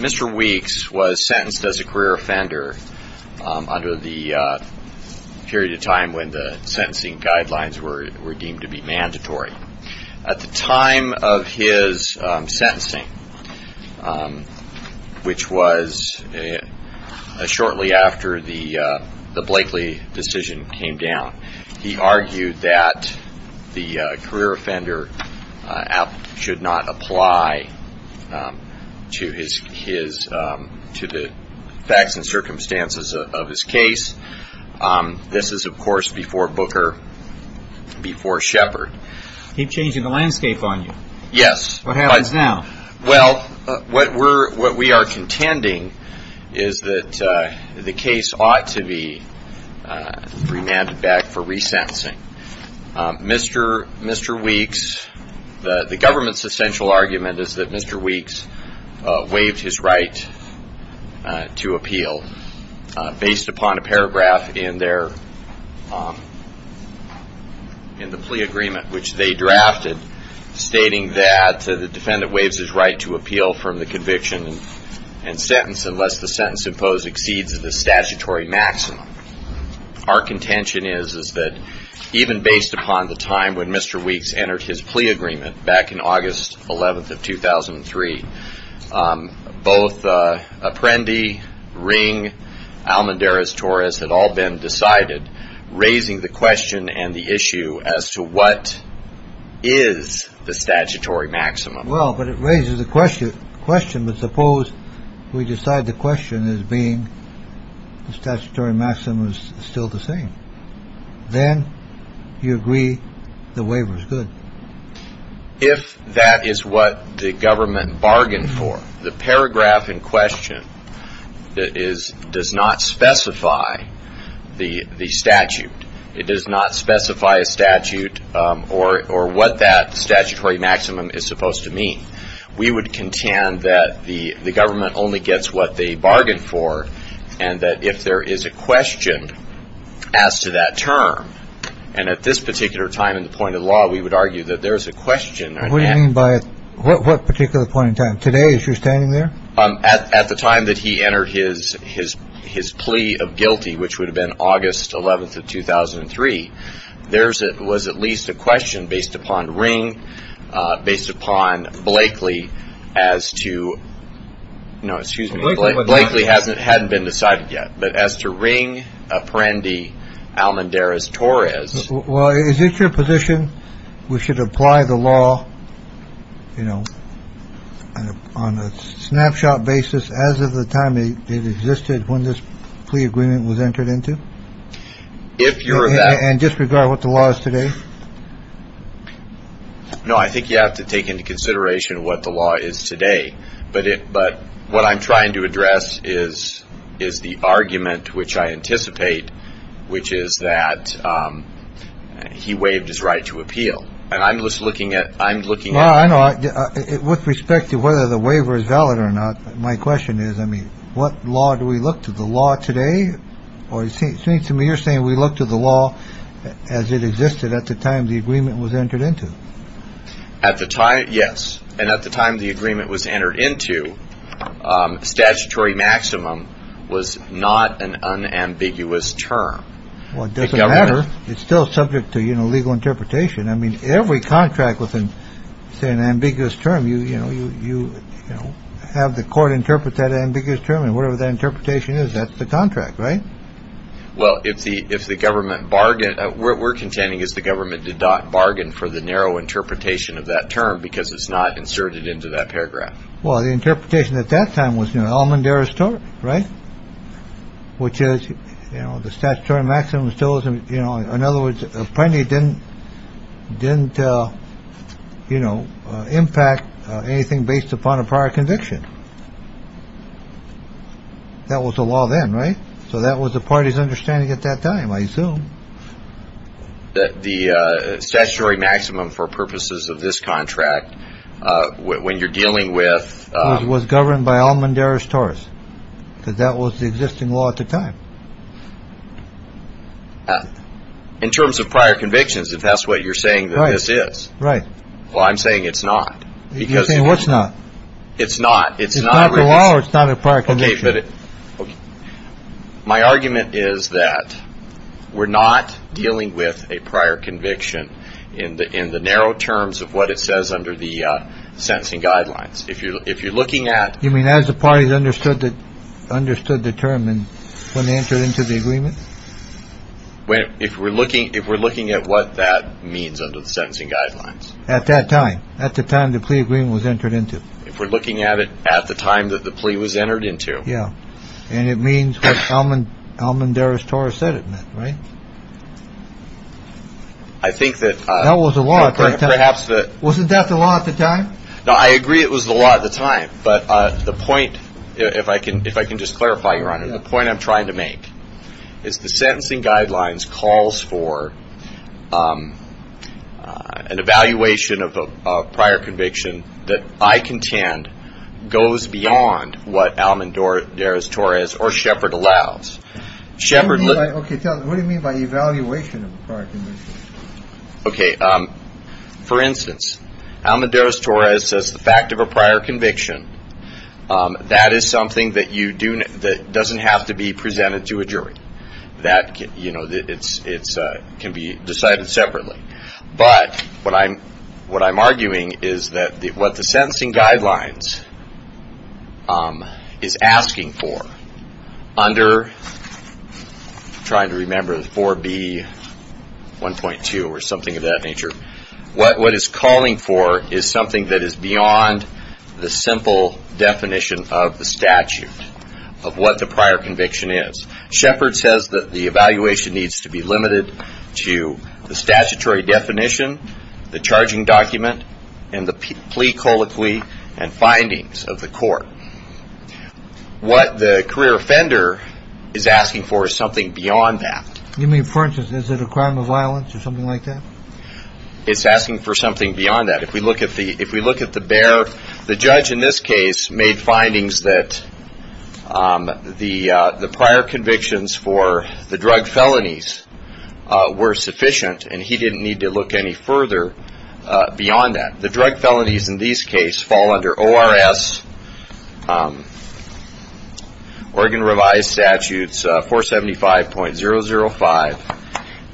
Mr. Weeks was sentenced as a career offender under the period of time when the sentencing guidelines were deemed to be mandatory. At the time of his sentencing, which was shortly after the Blakely decision came down, he argued that the career offender should not apply to the facts and circumstances of his case. This is, of course, before Booker, before Shepard. He changed the landscape on you. Yes. What happens now? Well, what we are contending is that the case ought to be remanded back for resentencing. Mr. Weeks, the government's essential argument is that Mr. Weeks waived his right to appeal based upon a paragraph in the plea agreement, which they drafted stating that the defendant waives his right to appeal from the conviction and sentence unless the sentence imposed exceeds the statutory maximum. Our contention is that even based upon the time when Mr. Weeks entered his plea agreement back in August 11th of 2003, both Apprendi, Ring, Almendarez-Torres had all been decided, raising the question and the issue as to what is the statutory maximum. Well, but it raises the question question. But suppose we decide the question is being the statutory maximum is still the same. Then you agree the waiver is good. If that is what the government bargained for, the paragraph in question is does not specify the the statute. It does not specify a statute or or what that statutory maximum is supposed to mean. We would contend that the government only gets what they bargained for and that if there is a question as to that term, and at this particular time in the point of law, we would argue that there is a question. What do you mean by what particular point in time today as you're standing there? At the time that he entered his his his plea of guilty, which would have been August 11th of 2003. There's it was at least a question based upon ring based upon Blakely as to. No, excuse me. Blakely hasn't hadn't been decided yet. But as to ring Apprendi, Almendarez-Torres. Well, is it your position we should apply the law, you know, on a snapshot basis as of the time it existed when this plea agreement was entered into? If you're that and disregard what the law is today. No, I think you have to take into consideration what the law is today. But but what I'm trying to address is, is the argument which I anticipate, which is that he waived his right to appeal. And I'm just looking at I'm looking at it with respect to whether the waiver is valid or not. My question is, I mean, what law do we look to the law today? Or it seems to me you're saying we look to the law as it existed at the time the agreement was entered into. At the time. Yes. And at the time the agreement was entered into statutory maximum was not an unambiguous term. Well, it doesn't matter. It's still subject to, you know, legal interpretation. I mean, every contract within an ambiguous term, you know, you have the court interpret that ambiguous term and whatever that interpretation is. That's the contract, right? Well, if the if the government bargain, we're contending is the government did not bargain for the narrow interpretation of that term because it's not inserted into that paragraph. Well, the interpretation at that time was, you know, Almondera store. Right. Which is, you know, the statutory maximum still isn't, you know, in other words, plenty didn't didn't, you know, impact anything based upon a prior conviction. That was the law then. Right. So that was the party's understanding at that time. I assume that the statutory maximum for purposes of this contract, when you're dealing with was governed by Almondera stores, because that was the existing law at the time. In terms of prior convictions, if that's what you're saying, this is right. Well, I'm saying it's not because what's not. It's not. It's not a law. It's not a part of it. My argument is that we're not dealing with a prior conviction in the in the narrow terms of what it says under the sentencing guidelines. If you're if you're looking at, I mean, as the parties understood that understood the term and when they entered into the agreement. Well, if we're looking if we're looking at what that means under the sentencing guidelines at that time, at the time the plea agreement was entered into, if we're looking at it at the time that the plea was entered into. Yeah. And it means Almond. Almondera store said it meant. Right. I think that that was a lot of perhaps that wasn't that the law at the time. Now, I agree it was the law at the time. But the point, if I can, if I can just clarify, your honor, the point I'm trying to make. Is the sentencing guidelines calls for an evaluation of a prior conviction that I contend goes beyond what Almond or Doris Torres or Shepard allows Shepard. OK. What do you mean by evaluation? OK. For instance, Almond Doris Torres says the fact of a prior conviction. That is something that you do that doesn't have to be presented to a jury that, you know, it's it's can be decided separately. But what I'm what I'm arguing is that what the sentencing guidelines is asking for under trying to remember the 4B 1.2 or something of that nature. What what is calling for is something that is beyond the simple definition of the statute of what the prior conviction is. Shepard says that the evaluation needs to be limited to the statutory definition, the charging document and the plea colloquy and findings of the court. But what the career offender is asking for is something beyond that. You mean, for instance, is it a crime of violence or something like that? It's asking for something beyond that. If we look at the if we look at the bear, the judge in this case made findings that the the prior convictions for the drug felonies were sufficient and he didn't need to look any further beyond that. The drug felonies in these case fall under O.R.S. Oregon revised statutes for seventy five point zero zero five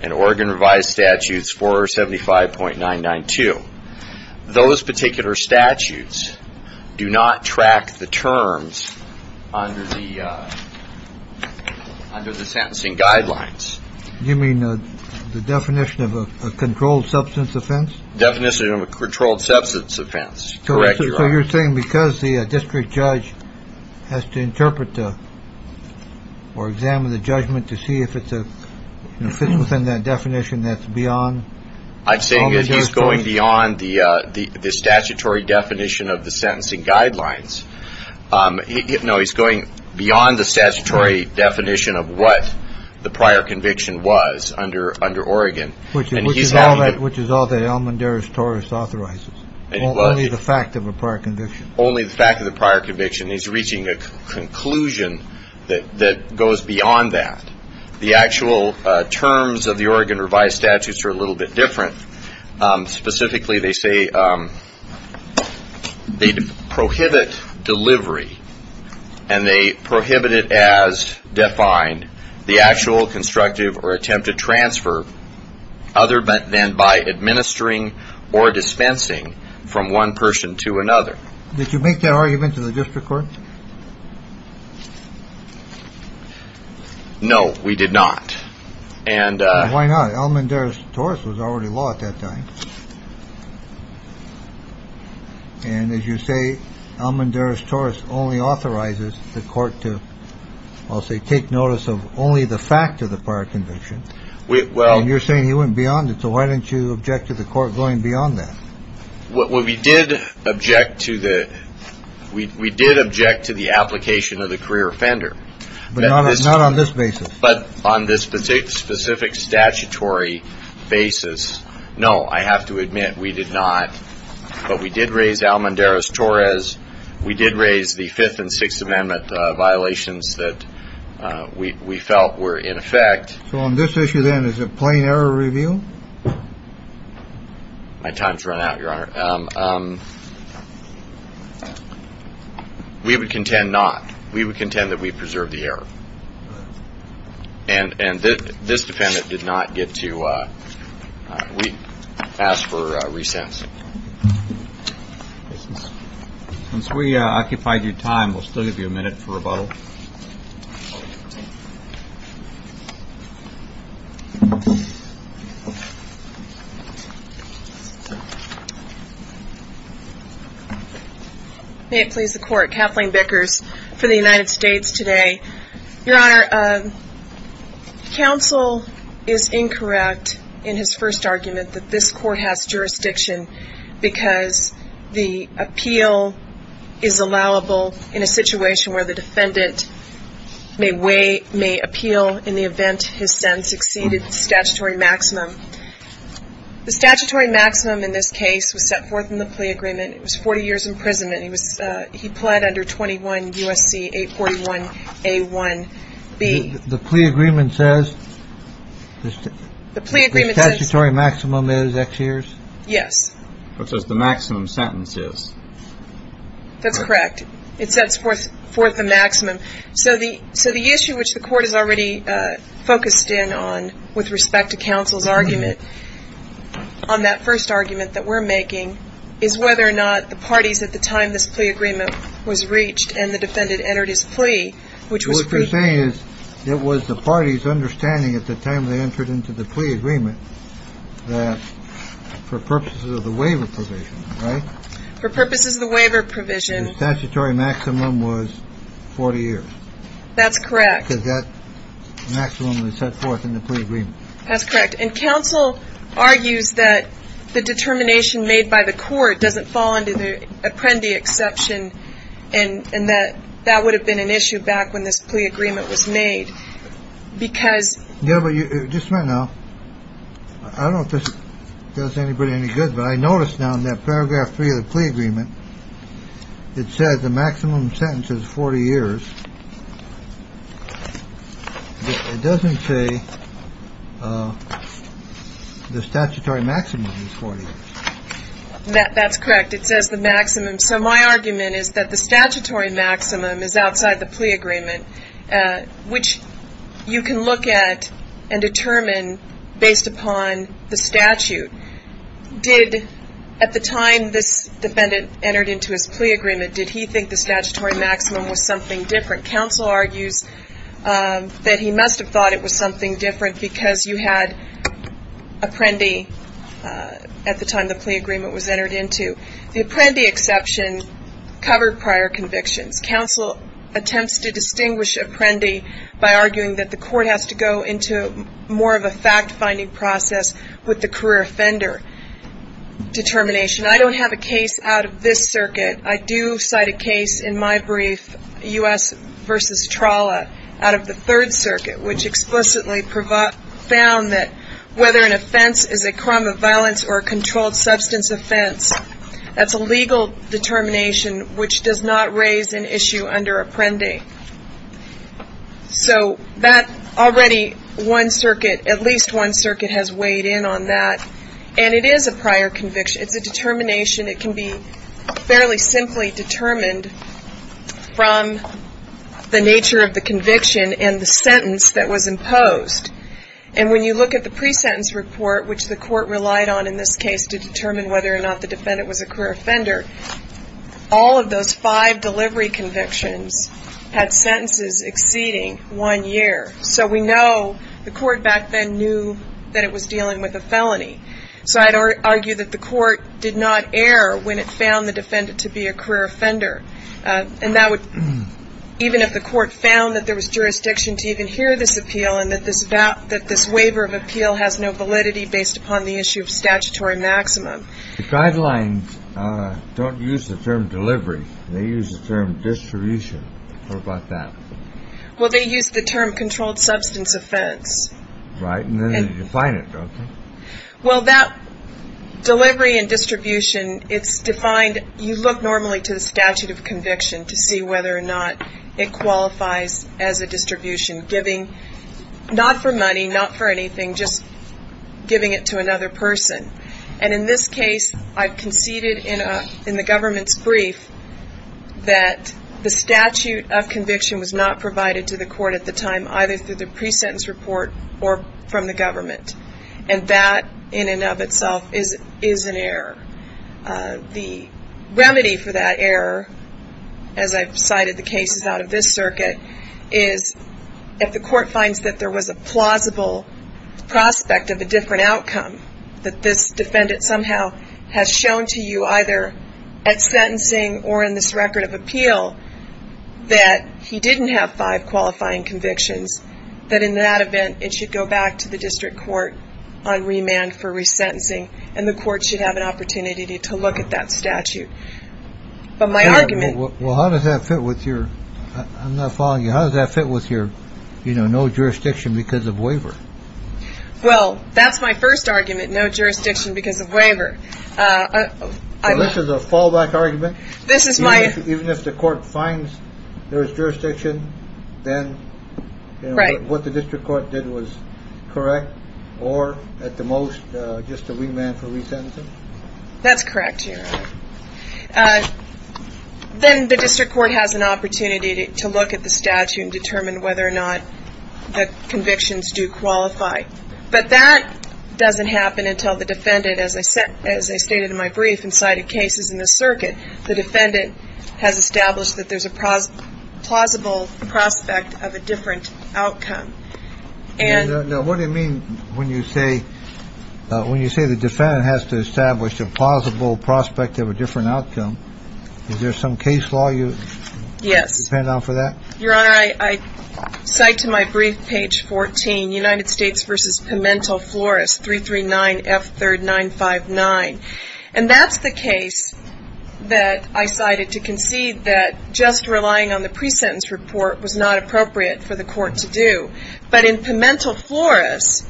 and Oregon revised statutes for seventy five point nine nine two. Those particular statutes do not track the terms under the under the sentencing guidelines. You mean the definition of a controlled substance offense? Definition of a controlled substance offense. Correct. So you're saying because the district judge has to interpret or examine the judgment to see if it fits within that definition, that's beyond. I'm saying that he's going beyond the the statutory definition of the sentencing guidelines. No, he's going beyond the statutory definition of what the prior conviction was under under Oregon. Which is which is all that which is all the Elmendares Taurus authorizes. Only the fact of a prior conviction. Only the fact of the prior conviction. He's reaching a conclusion that that goes beyond that. The actual terms of the Oregon revised statutes are a little bit different. Specifically, they say they prohibit delivery and they prohibit it as defined. The actual constructive or attempt to transfer other than by administering or dispensing from one person to another. Did you make that argument to the district court? No, we did not. And why not? Elmendares Taurus was already law at that time. And as you say, Elmendares Taurus only authorizes the court to, I'll say, take notice of only the fact of the prior conviction. Well, you're saying he went beyond it. So why didn't you object to the court going beyond that? What we did object to the we did object to the application of the career offender. But not on this basis, but on this specific, specific statutory basis. No, I have to admit, we did not. But we did raise Elmendares Taurus. We did raise the Fifth and Sixth Amendment violations that we felt were in effect. So on this issue, then, is a plain error review. My time's run out, Your Honor. We would contend not. We would contend that we preserve the error. And this defendant did not get to. We ask for recess. Since we occupied your time, we'll still give you a minute for rebuttal. May it please the Court. Kathleen Bickers for the United States today. Your Honor, counsel is incorrect in his first argument that this court has jurisdiction because the appeal is allowable in a situation where the defendant may appeal in the event his sentence exceeded the statutory maximum. The statutory maximum in this case was set forth in the plea agreement. It was 40 years imprisonment. He pled under 21 U.S.C. 841A1B. The plea agreement says the statutory maximum is X years? Yes. It says the maximum sentence is. That's correct. It sets forth the maximum. So the issue which the court has already focused in on with respect to counsel's argument on that first argument that we're making is whether or not the parties at the time this plea agreement was reached and the defendant entered his plea, which was free. It was the party's understanding at the time they entered into the plea agreement that for purposes of the waiver provision. For purposes of the waiver provision, statutory maximum was 40 years. That's correct. Because that maximum was set forth in the plea agreement. That's correct. And counsel argues that the determination made by the court doesn't fall into the Apprendi exception. And that that would have been an issue back when this plea agreement was made because. Yeah. But just right now, I don't know if this does anybody any good. But I noticed now in that paragraph three of the plea agreement, it says the maximum sentence is 40 years. It doesn't say the statutory maximum is 40. That's correct. It says the maximum. So my argument is that the statutory maximum is outside the plea agreement, which you can look at and determine based upon the statute. Did at the time this defendant entered into his plea agreement, did he think the statutory maximum was something different? Counsel argues that he must have thought it was something different because you had Apprendi at the time the plea agreement was entered into. The Apprendi exception covered prior convictions. Counsel attempts to distinguish Apprendi by arguing that the court has to go into more of a fact-finding process with the career offender determination. I don't have a case out of this circuit. I do cite a case in my brief, U.S. v. Trolla, out of the Third Circuit, which explicitly found that whether an offense is a crime of violence or a controlled substance offense, that's a legal determination which does not raise an issue under Apprendi. So that already one circuit, at least one circuit has weighed in on that. And it is a prior conviction. It's a determination. It can be fairly simply determined from the nature of the conviction and the sentence that was imposed. And when you look at the pre-sentence report, which the court relied on in this case to determine whether or not the defendant was a career offender, all of those five delivery convictions had sentences exceeding one year. So we know the court back then knew that it was dealing with a felony. So I'd argue that the court did not err when it found the defendant to be a career offender. And that would, even if the court found that there was jurisdiction to even hear this appeal and that this waiver of appeal has no validity based upon the issue of statutory maximum. The guidelines don't use the term delivery. They use the term distribution. What about that? Well, they use the term controlled substance offense. Right. And then they define it, don't they? Well, that delivery and distribution, it's defined. And you look normally to the statute of conviction to see whether or not it qualifies as a distribution, giving not for money, not for anything, just giving it to another person. And in this case, I've conceded in the government's brief that the statute of conviction was not provided to the court at the time, either through the pre-sentence report or from the government. And that in and of itself is an error. The remedy for that error, as I've cited the cases out of this circuit, is if the court finds that there was a plausible prospect of a different outcome, that this defendant somehow has shown to you either at sentencing or in this record of appeal that he didn't have five qualifying convictions, that in that event it should go back to the district court on remand for resentencing and the court should have an opportunity to look at that statute. But my argument. Well, how does that fit with your... I'm not following you. How does that fit with your, you know, no jurisdiction because of waiver? Well, that's my first argument. No jurisdiction because of waiver. This is a fallback argument. This is my... Even if the court finds there is jurisdiction, then... Right. What the district court did was correct or at the most just a remand for resentencing? That's correct, Your Honor. Then the district court has an opportunity to look at the statute and determine whether or not the convictions do qualify. But that doesn't happen until the defendant, as I stated in my brief and cited cases in this circuit, the defendant has established that there's a plausible prospect of a different outcome. And... Now, what do you mean when you say, when you say the defendant has to establish a plausible prospect of a different outcome? Is there some case law you... Yes.... depend on for that? Your Honor, I cite to my brief page 14, United States v. Pimentel Flores, 339F3959. And that's the case that I cited to concede that just relying on the presentence report was not appropriate for the court to do. But in Pimentel Flores,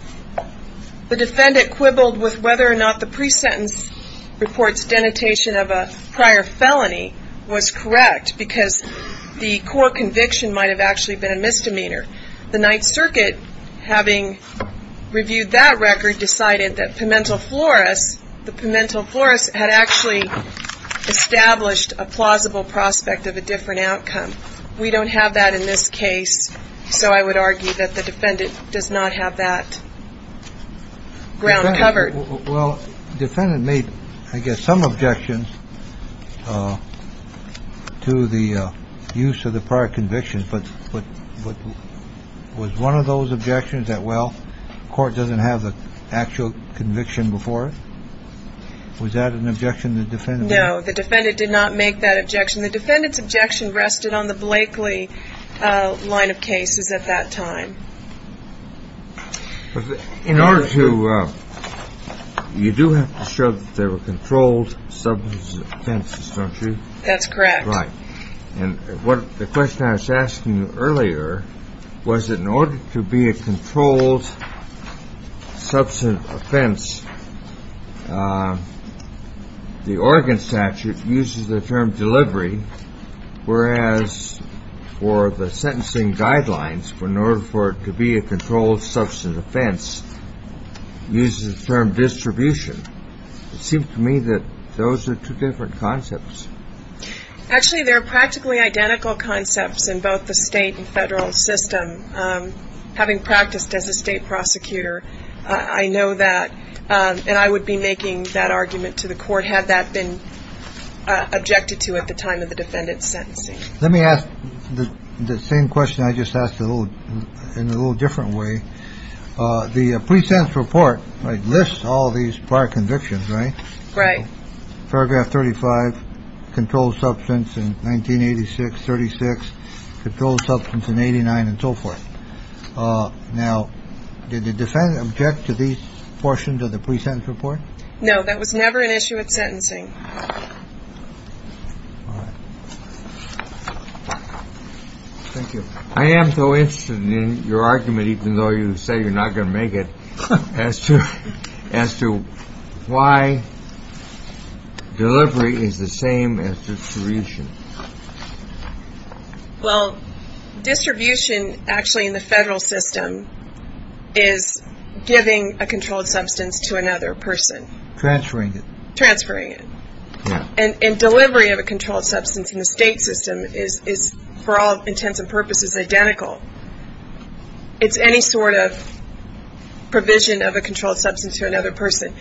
the defendant quibbled with whether or not the presentence report's denotation of a prior felony was correct because the core conviction might have actually been a misdemeanor. The Ninth Circuit, having reviewed that record, decided that Pimentel Flores, the Pimentel Flores had actually established a plausible prospect of a different outcome. We don't have that in this case. So I would argue that the defendant does not have that ground covered. Well, defendant made, I guess, some objections to the use of the prior conviction. But was one of those objections that, well, the court doesn't have the actual conviction before it? Was that an objection the defendant made? No, the defendant did not make that objection. The defendant's objection rested on the Blakeley line of cases at that time. In order to... you do have to show that there were controlled substances offenses, don't you? That's correct. Right. And the question I was asking you earlier was that in order to be a controlled substance offense, the Oregon statute uses the term delivery, whereas for the sentencing guidelines, in order for it to be a controlled substance offense, uses the term distribution. It seems to me that those are two different concepts. Actually, they're practically identical concepts in both the state and federal system. Having practiced as a state prosecutor, I know that. And I would be making that argument to the court had that been objected to at the time of the defendant's sentencing. Let me ask the same question I just asked in a little different way. The pre-sentence report lists all these prior convictions, right? Right. Paragraph 35, controlled substance in 1986, 36, controlled substance in 89, and so forth. Now, did the defendant object to these portions of the pre-sentence report? No, that was never an issue at sentencing. Thank you. I am so interested in your argument, even though you say you're not going to make it, as to why delivery is the same as distribution. Well, distribution actually in the federal system is giving a controlled substance to another person. Transferring it. Transferring it. And delivery of a controlled substance in the state system is, for all intents and purposes, identical. It's any sort of provision of a controlled substance to another person.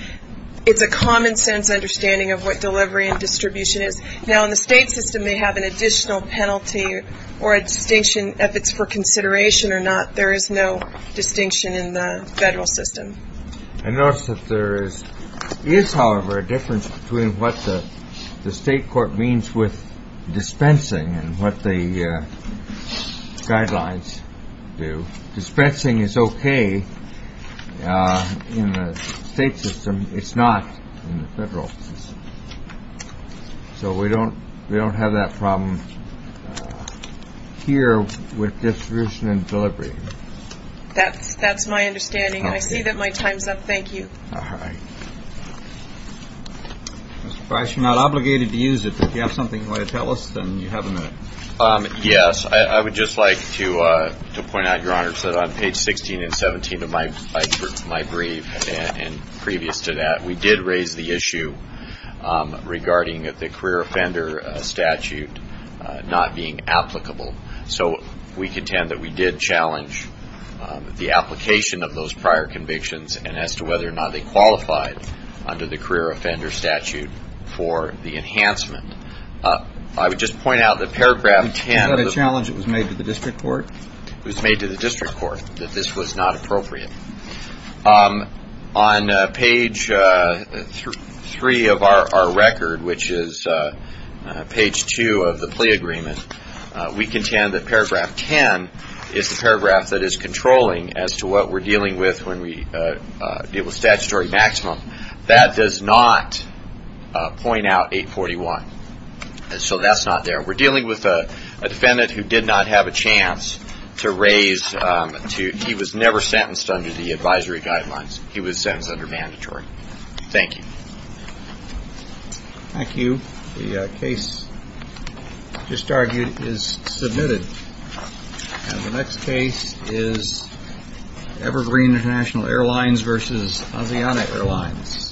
It's a common sense understanding of what delivery and distribution is. Now, in the state system, they have an additional penalty or a distinction if it's for consideration or not. There is no distinction in the federal system. I notice that there is, however, a difference between what the state court means with dispensing and what the guidelines do. Dispensing is okay in the state system. It's not in the federal system. So we don't have that problem here with distribution and delivery. That's my understanding. I see that my time is up. Thank you. All right. Mr. Price, you're not obligated to use it, but if you have something you want to tell us, then you have a minute. Yes. I would just like to point out, Your Honor, that on page 16 and 17 of my brief and previous to that, we did raise the issue regarding the career offender statute not being applicable. So we contend that we did challenge the application of those prior convictions and as to whether or not they qualified under the career offender statute for the enhancement. I would just point out that paragraph 10. Was that a challenge that was made to the district court? It was made to the district court that this was not appropriate. On page 3 of our record, which is page 2 of the plea agreement, we contend that paragraph 10 is the paragraph that is controlling as to what we're dealing with when we deal with statutory maximum. That does not point out 841. So that's not there. We're dealing with a defendant who did not have a chance to raise. He was never sentenced under the advisory guidelines. He was sentenced under mandatory. Thank you. Thank you. The case just argued is submitted. And the next case is Evergreen International Airlines versus Asiana Airlines. Thank you. Thank you.